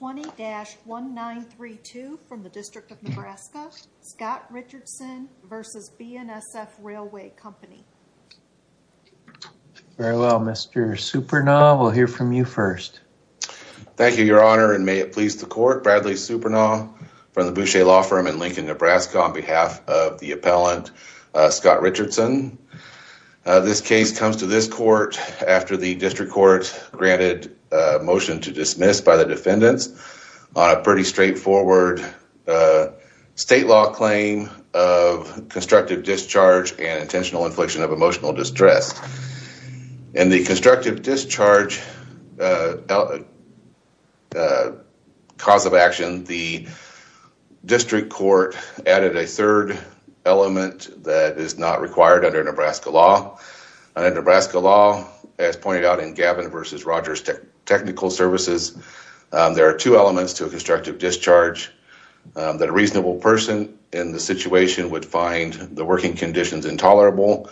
20-1932 from the District of Nebraska, Scott Richardson v. BNSF Railway Company. Very well, Mr. Supernaw, we'll hear from you first. Thank you, your honor, and may it please the court. Bradley Supernaw from the Boucher Law Firm in Lincoln, Nebraska, on behalf of the appellant Scott Richardson. This case comes to this court after the district court granted a defendant's on a pretty straightforward state law claim of constructive discharge and intentional infliction of emotional distress. In the constructive discharge cause of action, the district court added a third element that is not required under Nebraska law. Under Nebraska law, as pointed out in Gavin v. Rogers technical services, there are two elements to a constructive discharge that a reasonable person in the situation would find the working conditions intolerable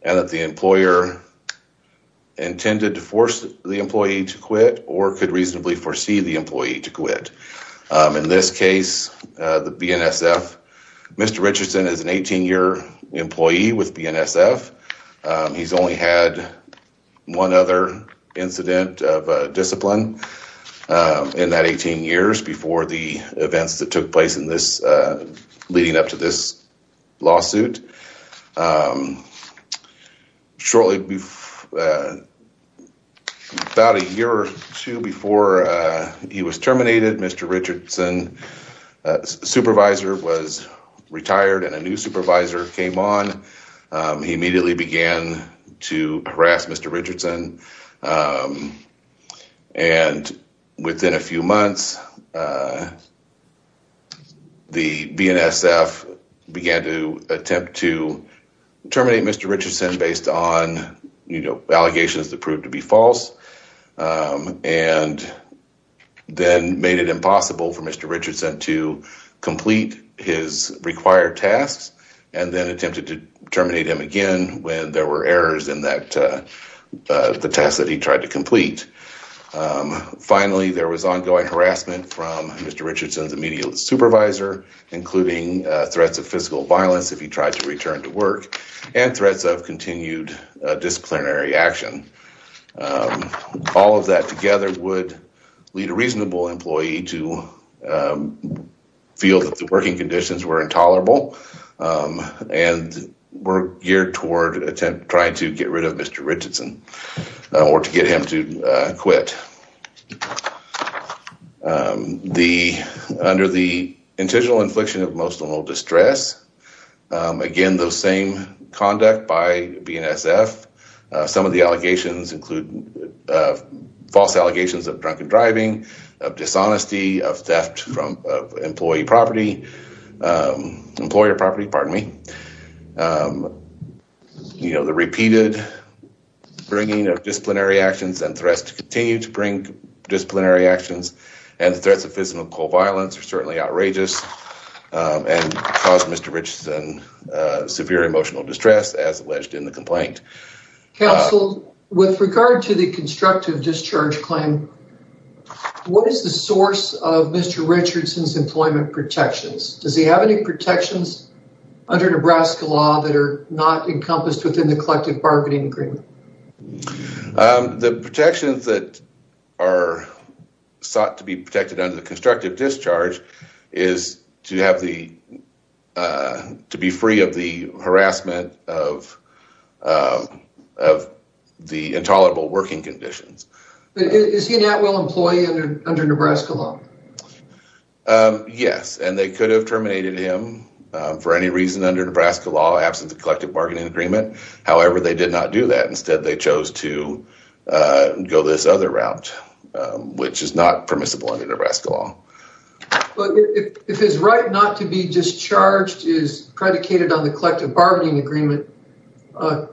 and that the employer intended to force the employee to quit or could reasonably foresee the employee to quit. In this case, the BNSF, Mr. Richardson is an 18-year employee with BNSF. He's only had one other incident of discipline in that 18 years before the events that took place in this, leading up to this lawsuit. Shortly before, about a year or two before he was terminated, Mr. Richardson's supervisor was retired and a new supervisor came on. He immediately began to harass Mr. Richardson and within a few months, the BNSF began to attempt to terminate Mr. Richardson based on allegations that proved to be false and then made it impossible for Mr. Richardson to complete his required tasks and then attempted to terminate him again when there were errors in that the test that he tried to complete. Finally, there was ongoing harassment from Mr. Richardson's immediate supervisor, including threats of physical violence if he tried to return to work and threats of continued disciplinary action. All of that together would lead a reasonable employee to feel that the working conditions were intolerable and were geared toward attempt trying to get rid of Mr. Richardson or to get him quit. Under the intentional infliction of emotional distress, again those same conduct by BNSF, some of the allegations include false allegations of drunken driving, of dishonesty, of theft from employee property, employer property, pardon me. The repeated bringing of disciplinary actions and threats to continue to bring disciplinary actions and threats of physical violence are certainly outrageous and cause Mr. Richardson severe emotional distress as alleged in the complaint. Counsel, with regard to the constructive discharge claim, what is the source of Mr. Richardson's employment protections? Does he have any protections under Nebraska law that are not encompassed within the collective bargaining agreement? The protections that are sought to be protected under the constructive discharge is to be free of the harassment of the intolerable working conditions. Is he a Natwell employee under Nebraska law? Yes, and they could have terminated him for any reason under Nebraska law, absent the collective bargaining agreement. However, they did not do that. Instead, they chose to go this other route, which is not permissible under Nebraska law. If his right not to be discharged is predicated on the collective bargaining agreement,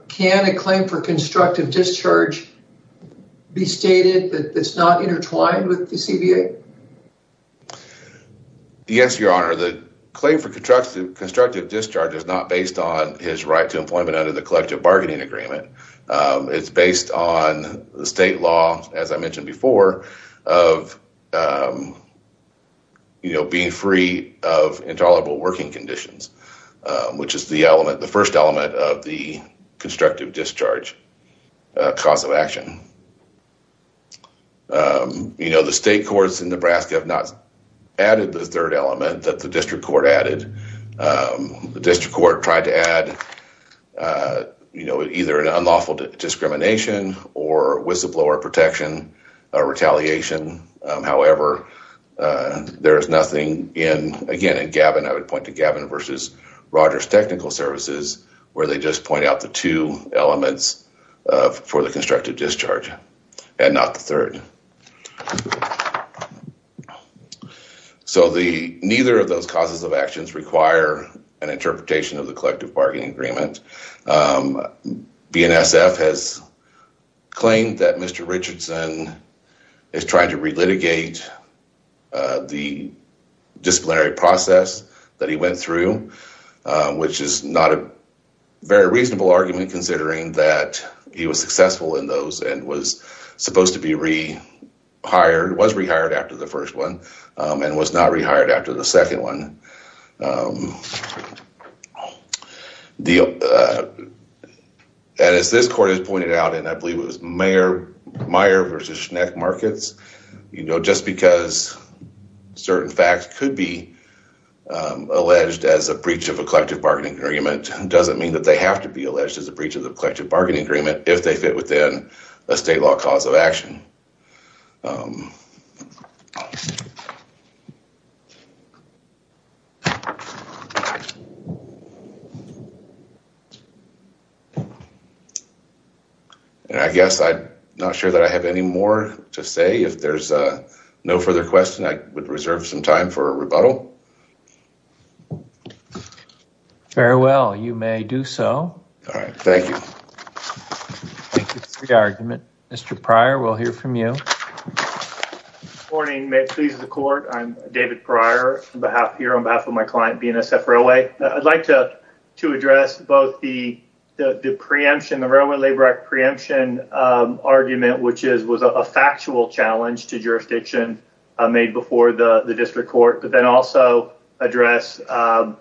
can a claim for constructive discharge be stated that it's not intertwined with the CBA? Yes, your honor. The claim for constructive discharge is not based on his right to employment under the collective bargaining agreement. It's based on the state law, as I mentioned before, of being free of intolerable working conditions, which is the first element of the constructive discharge cause of action. The state courts in Nebraska have not added the third element that the district court added. The district court tried to add either an unlawful discrimination or whistleblower protection, retaliation. However, there is nothing in, again, in Gavin, I would point to Gavin versus Rogers Technical Services, where they just point out the two elements for the constructive discharge. And not the third. So, neither of those causes of actions require an interpretation of the collective bargaining agreement. BNSF has claimed that Mr. Richardson is trying to relitigate the disciplinary process that he went through, which is not a very reasonable argument, considering that he was successful in those and was supposed to be rehired, was rehired after the first one, and was not rehired after the second one. And as this court has pointed out, and I believe it was Meyer versus Schneck Markets, just because certain facts could be alleged as a breach of a collective bargaining agreement doesn't mean they have to be alleged as a breach of the collective bargaining agreement if they fit within a state law cause of action. And I guess I'm not sure that I have any more to say. If there's no further questions, I would reserve some time for a rebuttal. Thank you for the argument. Mr. Pryor, we'll hear from you. Good morning. I'm David Pryor on behalf of my client, BNSF Railway. I would like to address both the preemption, the Railway Labor Act preemption argument, which was a factual challenge to jurisdiction made before the district court, but then also address how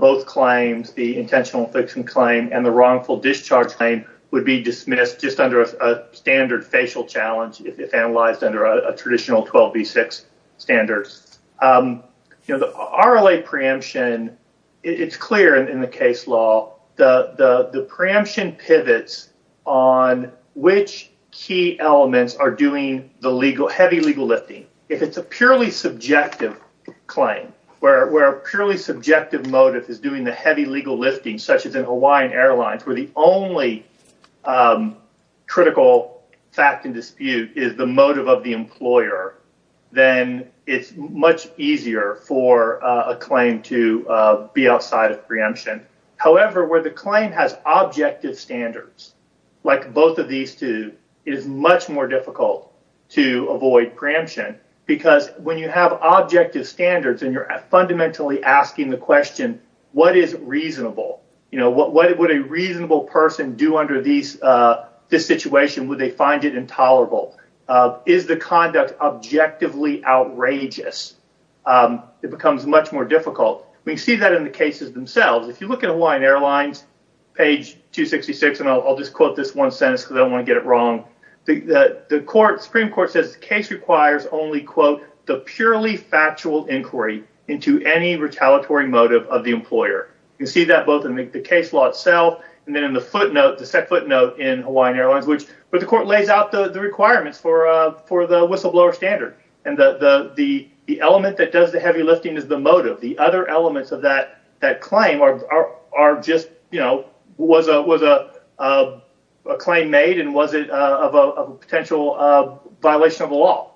both claims, the intentional fixing claim and the wrongful discharge claim, would be dismissed just under a standard facial challenge if analyzed under a traditional 12b6 standard. You know, the RLA preemption, it's clear in the case law, the preemption pivots on which key elements are doing the heavy legal lifting. If it's a purely subjective claim where a purely subjective motive is doing the heavy legal lifting, such as in Hawaiian Airlines, where the only critical fact and dispute is the motive of the employer, then it's much easier for a claim to be outside of preemption. However, where the claim has objective standards like both of these two, it is much more difficult to avoid preemption because when you have objective standards and you're fundamentally asking the question, what is reasonable? What would a reasonable person do under this situation? Would they find it intolerable? Is the conduct objectively outrageous? It becomes much more difficult. We see that in the cases themselves. If you look at Hawaiian Airlines, page 266, and I'll just quote this one sentence because I don't want to get it wrong. The Supreme Court says the case requires only, quote, the purely factual inquiry into any retaliatory motive of the employer. You see that both in the case law itself and then in the footnote, the set footnote in Hawaiian Airlines, which the court lays out the requirements for the whistleblower standard. And the element that does the heavy lifting is the motive. The other elements of that claim was a claim made and was it of a potential violation of the law.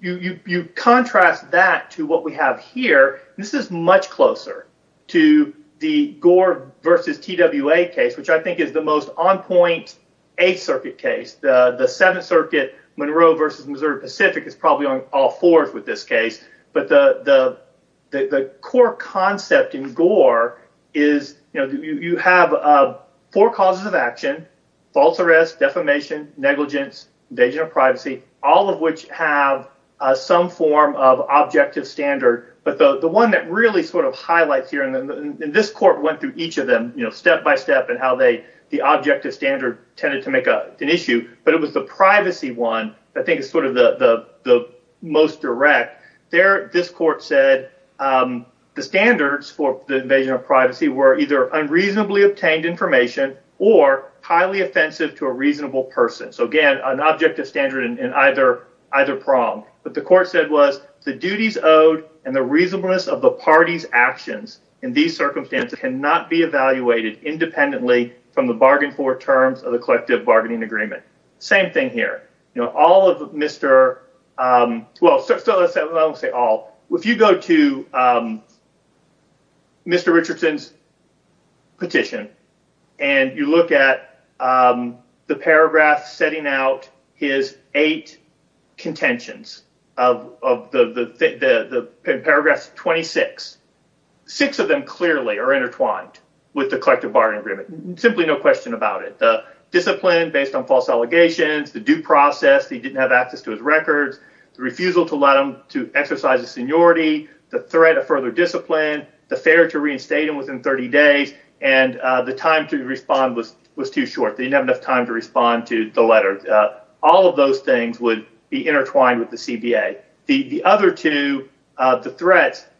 You contrast that to what we have here. This is much closer to the Gore versus TWA case, which I think is the most on point Eighth Circuit case, the Pacific is probably on all fours with this case. But the core concept in Gore is you have four causes of action, false arrest, defamation, negligence, invasion of privacy, all of which have some form of objective standard. But the one that really sort of highlights here in this court went through each of them step by step and how the objective standard tended to make an issue. But it was the privacy one, I think, is sort of the most direct. This court said the standards for the invasion of privacy were either unreasonably obtained information or highly offensive to a reasonable person. So, again, an objective standard in either either prong. But the court said was the duties owed and the reasonableness of the party's actions in these circumstances cannot be evaluated independently from the bargain for terms of the collective bargaining agreement. Same thing here. If you go to Mr. Richardson's petition and you look at the paragraph setting out his eight contentions of the paragraphs 26, six of them clearly are based on false allegations, the due process, he didn't have access to his records, the refusal to let him to exercise his seniority, the threat of further discipline, the failure to reinstate him within 30 days, and the time to respond was too short. They didn't have enough time to respond to the letter. All of those things would be intertwined with the CBA. The other two, the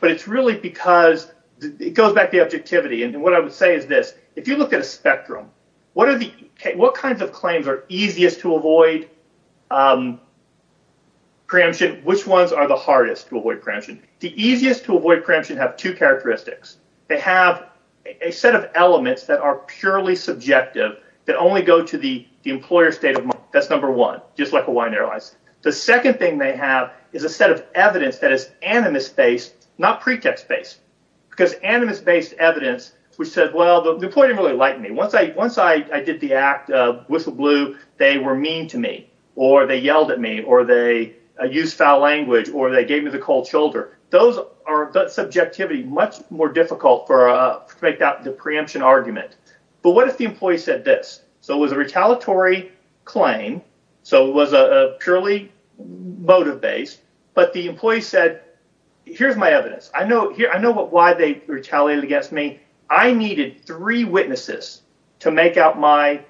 but it's really because it goes back to objectivity. And what I would say is this. If you look at a spectrum, what are the what kinds of claims are easiest to avoid preemption? Which ones are the hardest to avoid preemption? The easiest to avoid preemption have two characteristics. They have a set of elements that are purely subjective that only go to the employer's state of mind. That's number one. Just like a wine. The second thing they have is a set of that is animus based, not pretext based, because animus based evidence, which said, well, the employee didn't really like me once I once I did the act of whistle blue, they were mean to me, or they yelled at me, or they use foul language, or they gave me the cold shoulder. Those are subjectivity much more difficult for make that the preemption argument. But what if the employee said this? So it was a retaliatory claim. So it was a purely motive based, but the employee said, here's my evidence. I know here I know what why they retaliated against me. I needed three witnesses to make out my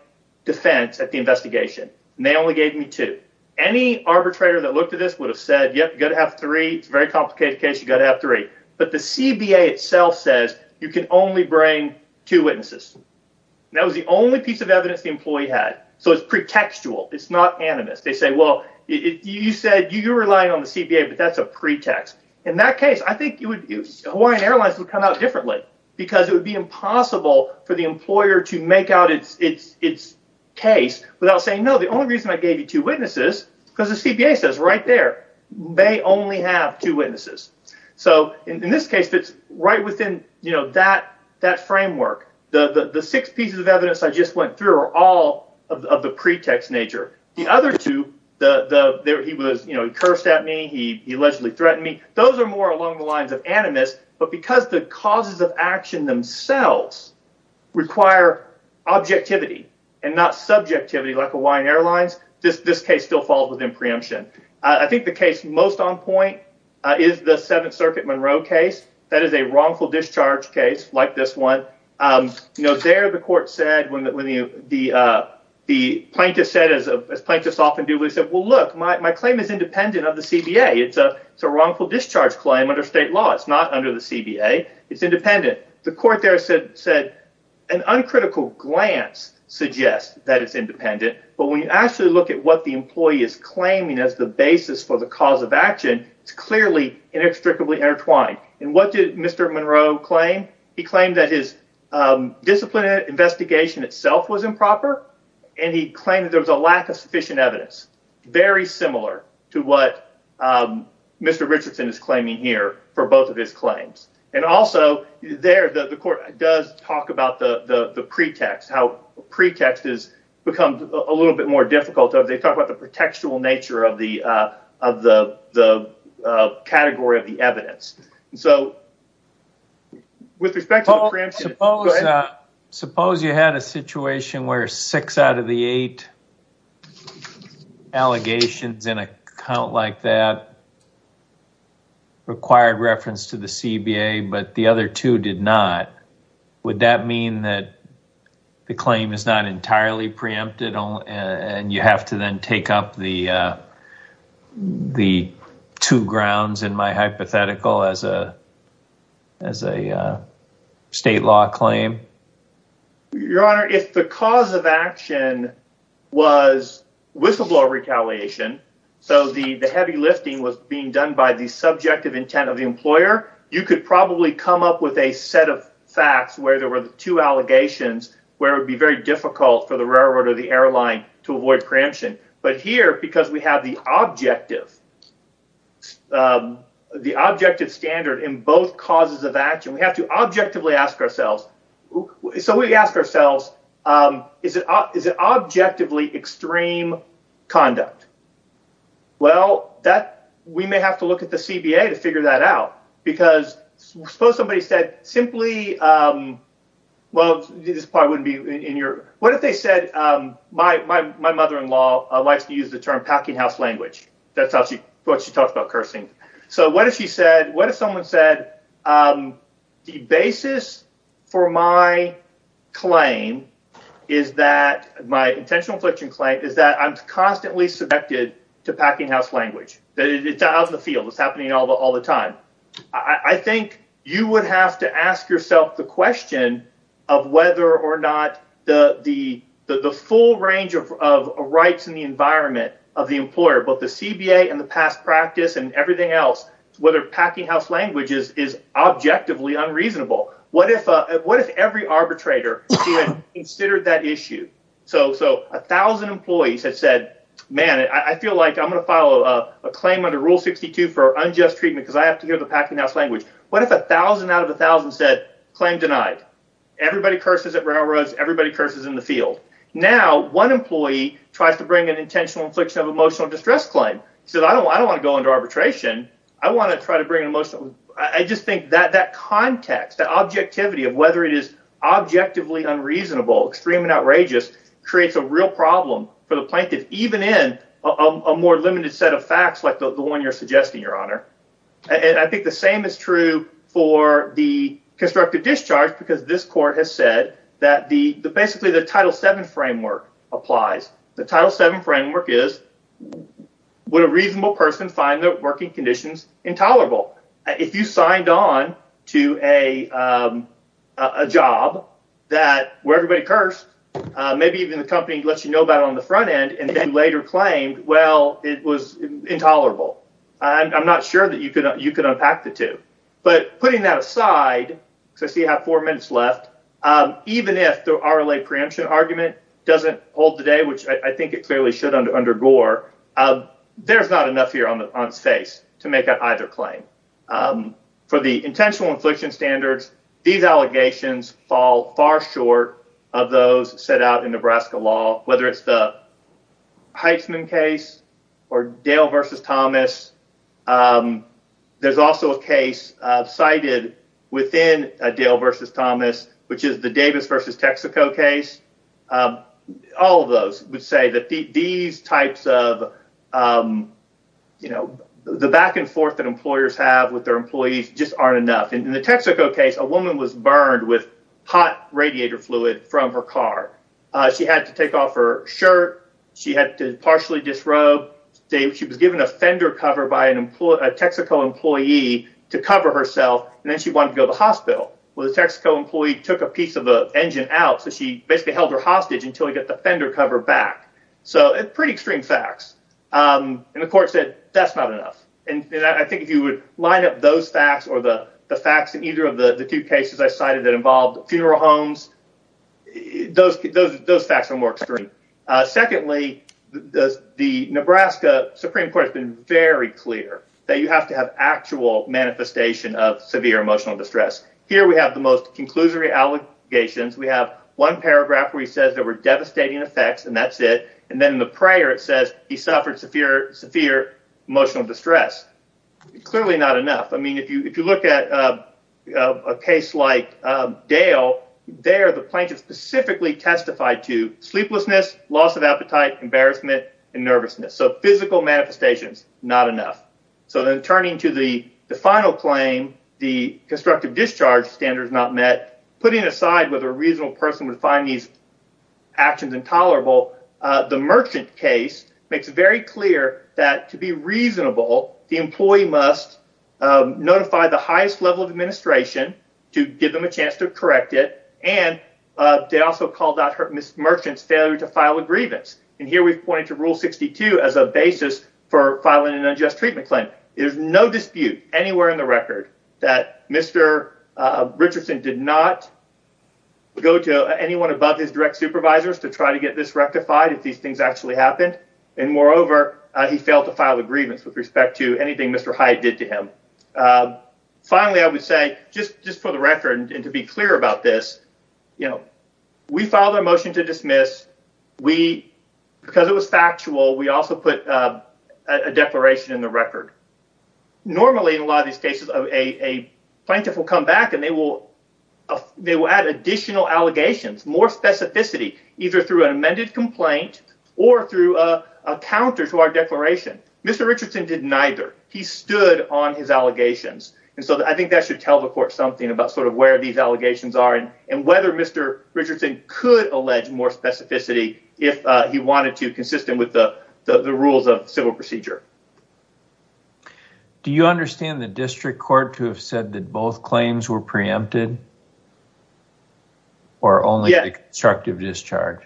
defense at the investigation. And they only gave me two. Any arbitrator that looked at this would have said, yep, got to have three very complicated case, you got to have three. But the CBA itself says you can only bring two witnesses. That was the only piece of evidence the employee had. So it's pretextual. It's not animus. They say, well, you said you rely on the CBA, but that's a pretext. In that case, I think you would use Hawaiian Airlines would come out differently, because it would be impossible for the employer to make out its its its case without saying no, the only reason I gave you two witnesses, because the CBA says right there, they only have two witnesses. So in this case, it's right within, you know, that that framework, the six pieces of evidence I just went through all of the pretext nature. The other two, the he was, you know, cursed at me. He allegedly threatened me. Those are more along the lines of animus. But because the causes of action themselves require objectivity and not subjectivity like Hawaiian Airlines, this this case still falls within preemption. I think the case most on point is the Seventh Circuit Monroe case. That is a wrongful discharge case like this one. You know, there the court said when the the the plaintiff said, as plaintiffs often do, we said, well, look, my claim is independent of the CBA. It's a it's a wrongful discharge claim under state law. It's not under the CBA. It's independent. The court there said said an uncritical glance suggests that it's independent. But when you actually look at what the employee is claiming as the basis for the cause of action, it's clearly inextricably intertwined. And what did Mr. Monroe claim? He claimed that his disciplinary investigation itself was improper and he claimed that there was a lack of sufficient evidence. Very similar to what Mr. Richardson is claiming here for both of his claims. And also there, the court does talk about the pretext, how pretext has become a little bit more difficult. They talk about the contextual nature of the of the the category of the evidence. So with respect to the preemption, suppose you had a situation where six out of the eight allegations in a count like that required reference to the CBA, but the other two did not. Would that mean that the claim is not the two grounds in my hypothetical as a as a state law claim? Your Honor, if the cause of action was whistleblower retaliation, so the heavy lifting was being done by the subjective intent of the employer, you could probably come up with a set of facts where there were two allegations where it would be very difficult for the railroad or the airline to avoid preemption. But here, because we have the objective, the objective standard in both causes of action, we have to objectively ask ourselves. So we ask ourselves, is it is it objectively extreme conduct? Well, that we may have to look at the CBA to figure that out, because suppose somebody said simply, um, well, this probably wouldn't be in your what if they said, my mother in law likes to use the term packinghouse language. That's how she what she talks about cursing. So what if she said, what if someone said, the basis for my claim is that my intentional infliction claim is that I'm constantly subjected to packinghouse language, that it's out in the field, it's happening all the time. I think you would have to ask yourself the question of whether or not the the the full range of rights in the environment of the employer, both the CBA and the past practice and everything else, whether packinghouse languages is objectively unreasonable. What if what if every arbitrator considered that issue? So so 1000 employees had said, man, I feel like I'm gonna a claim under Rule 62 for unjust treatment, because I have to hear the packinghouse language. What if 1000 out of 1000 said claim denied? Everybody curses at railroads, everybody curses in the field. Now, one employee tries to bring an intentional infliction of emotional distress claim. So I don't I don't want to go into arbitration. I want to try to bring emotion. I just think that that context, that objectivity of whether it is objectively unreasonable, extreme and outrageous, creates a real problem for the plaintiff, even in a more limited set of facts like the one you're suggesting, Your Honor. And I think the same is true for the constructive discharge, because this court has said that the basically the Title VII framework applies. The Title VII framework is would a reasonable person find their working conditions intolerable? If you signed on to a even the company lets you know about on the front end and then later claimed, well, it was intolerable, I'm not sure that you could you could unpack the two. But putting that aside, because I see how four minutes left, even if the RLA preemption argument doesn't hold today, which I think it clearly should under under Gore, there's not enough here on the on space to make up either claim. For the intentional infliction standards, these allegations fall far short of those set out in Nebraska law, whether it's the Heisman case or Dale v. Thomas. There's also a case cited within Dale v. Thomas, which is the Davis v. Texaco case. All of those would say that these types of, you know, the back and forth that employers have with employees just aren't enough. And in the Texaco case, a woman was burned with hot radiator fluid from her car. She had to take off her shirt. She had to partially disrobe. She was given a fender cover by a Texaco employee to cover herself. And then she wanted to go to the hospital. Well, the Texaco employee took a piece of the engine out. So she basically held her hostage until he got the fender cover back. So it's pretty extreme facts. And the court said that's not those facts or the facts in either of the two cases I cited that involved funeral homes. Those facts are more extreme. Secondly, the Nebraska Supreme Court has been very clear that you have to have actual manifestation of severe emotional distress. Here we have the most conclusory allegations. We have one paragraph where he says there were devastating effects, and that's it. And then in the prayer, it says he suffered severe emotional distress. Clearly not enough. I mean, if you look at a case like Dale, there the plaintiff specifically testified to sleeplessness, loss of appetite, embarrassment and nervousness. So physical manifestations, not enough. So then turning to the final claim, the constructive discharge standard is not met. Putting aside whether a reasonable person would find these actions intolerable, the merchant case makes it very clear that to be reasonable, the employee must notify the highest level of administration to give them a chance to correct it. And they also called out this merchant's failure to file a grievance. And here we point to Rule 62 as a basis for filing an unjust treatment claim. There's no dispute anywhere in the record that Mr. Richardson did not go to anyone above his direct supervisors to try to get this rectified if these things actually happened. And moreover, he failed to file a grievance with respect to anything Mr. Hyatt did to him. Finally, I would say just for the record and to be clear about this, we filed a motion to dismiss. Because it was factual, we also put a declaration in the record. Normally, in a lot of these cases, a plaintiff will come back and they will add additional allegations, more specificity, either through an amended complaint or through a counter to our declaration. Mr. Richardson did neither. He stood on his allegations. And so I think that should tell the court something about sort of where these allegations are and whether Mr. Richardson could allege more specificity if he wanted to consistent with the rules of civil procedure. Do you understand the district court to have said that both claims were preempted or only constructive discharge?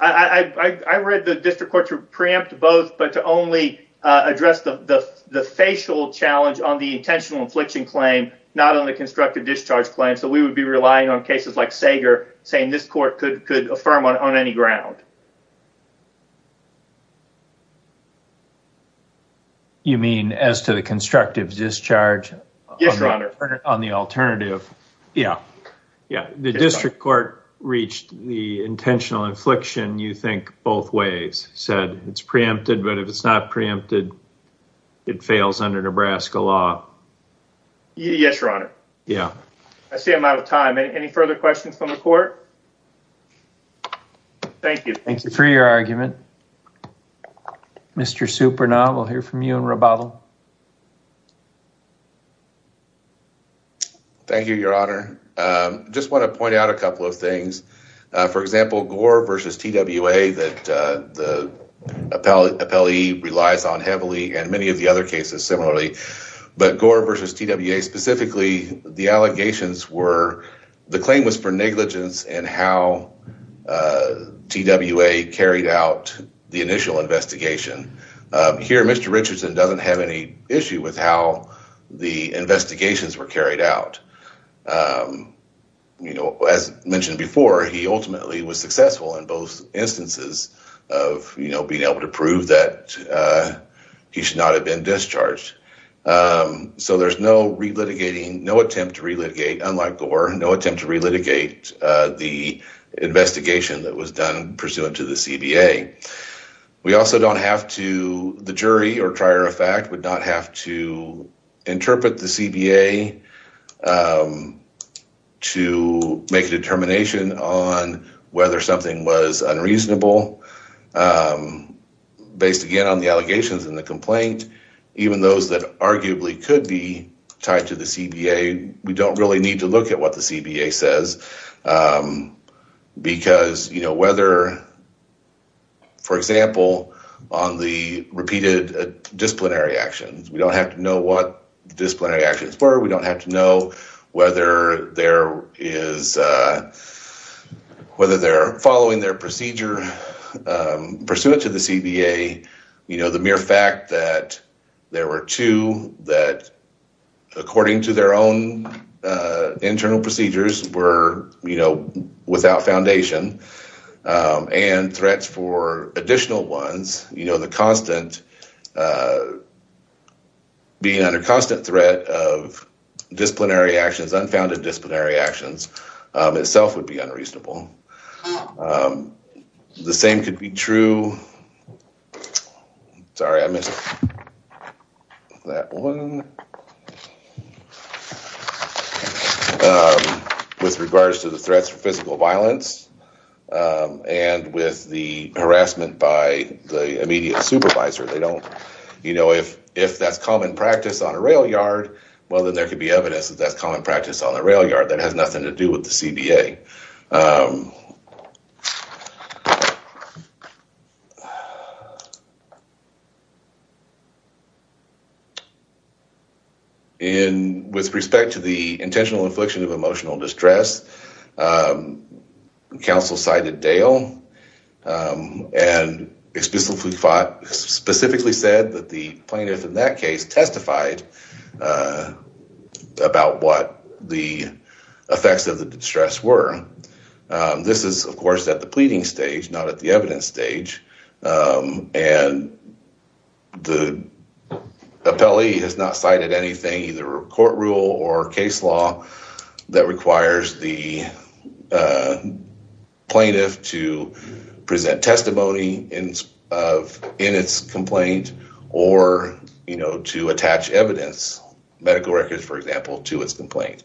I read the district court to preempt both but to only address the facial challenge on the intentional infliction claim, not on the constructive discharge claim. So we would be relying on cases like Sager saying this court could affirm on any ground. You mean as to the constructive discharge? Yes, your honor. On the alternative? Yeah. Yeah. The district court reached the intentional infliction you think both ways, said it's preempted, but if it's not preempted, it fails under Nebraska law. Yes, your honor. Yeah. I see I'm out of time. Any further questions from the court? Thank you. Thank you for your argument. Mr. Supernova, we'll hear from you in rebuttal. Thank you, your honor. Just want to point out a couple of things. For example, Gore versus TWA that the appellee relies on heavily and many of the other cases similarly, but Gore versus TWA specifically, the allegations were the claim was for negligence and how TWA carried out the initial investigation. Here, Mr. Richardson doesn't have any issue with how the investigations were carried out. As mentioned before, he ultimately was successful in both instances of, you know, being able to prove that he should not have been discharged. So there's no re-litigating, no attempt to re-litigate, unlike Gore, no attempt to re-litigate the investigation that was done pursuant to the CBA. We also don't have to, the jury or prior effect would not have to interpret the CBA to make a determination on whether something was unreasonable. Based again on the allegations in the complaint, even those that arguably could be tied to the CBA, we don't really need to look at what the CBA says because, you know, whether, for example, on the repeated disciplinary actions, we don't have to know what disciplinary actions were, we don't have to know whether there is, whether they're following their procedure pursuant to the CBA, you know, the mere fact that there were two that, according to their own internal procedures, were, you know, without foundation and threats for additional ones, you know, the constant, being under constant threat of disciplinary actions, unfounded disciplinary actions, itself would be unreasonable. The same could be true, sorry I missed that one, with regards to the threats for physical violence and with the harassment by the immediate supervisor. They don't, you know, if that's common practice on a rail yard, well then there could be evidence that that's common practice on the rail yard that has nothing to do with the CBA. With respect to the intentional infliction of emotional distress, counsel cited Dale and specifically said that the plaintiff in that case testified about what the effects of the distress were. This is, of course, at the pleading stage, not at the evidence stage, and the appellee has not cited anything, either a court rule or case law, that requires the plaintiff to present testimony in its complaint or, you know, to medical records, for example, to its complaint.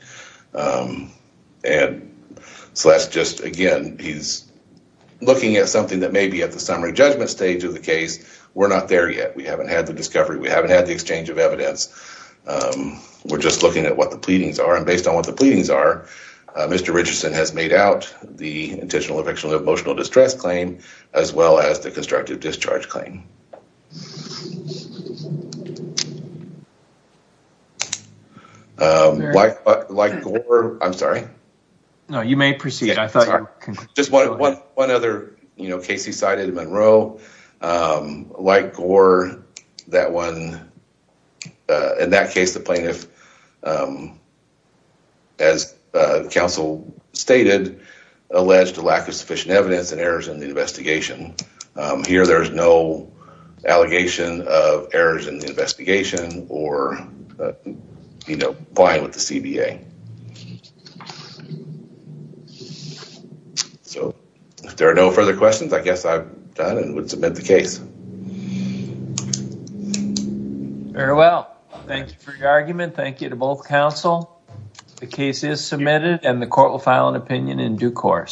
And so that's just, again, he's looking at something that may be at the summary judgment stage of the case. We're not there yet. We haven't had the discovery. We haven't had the exchange of evidence. We're just looking at what the pleadings are, and based on what the pleadings are, Mr. Richardson has made out the intentional emotional distress claim, as well as the constructive discharge claim. Like Gore, I'm sorry. No, you may proceed. I thought you just wanted one other, you know, Casey cited Monroe. Like Gore, that one, in that case, the plaintiff, as counsel stated, alleged a lack of sufficient evidence and errors in the investigation. Here, there's no allegation of errors in the investigation or, you know, applying with the CBA. So, if there are no further questions, I guess I've done and would submit the case. All right. Very well. Thank you for your argument. Thank you to both counsel. The case is submitted and the court will file an opinion in due course.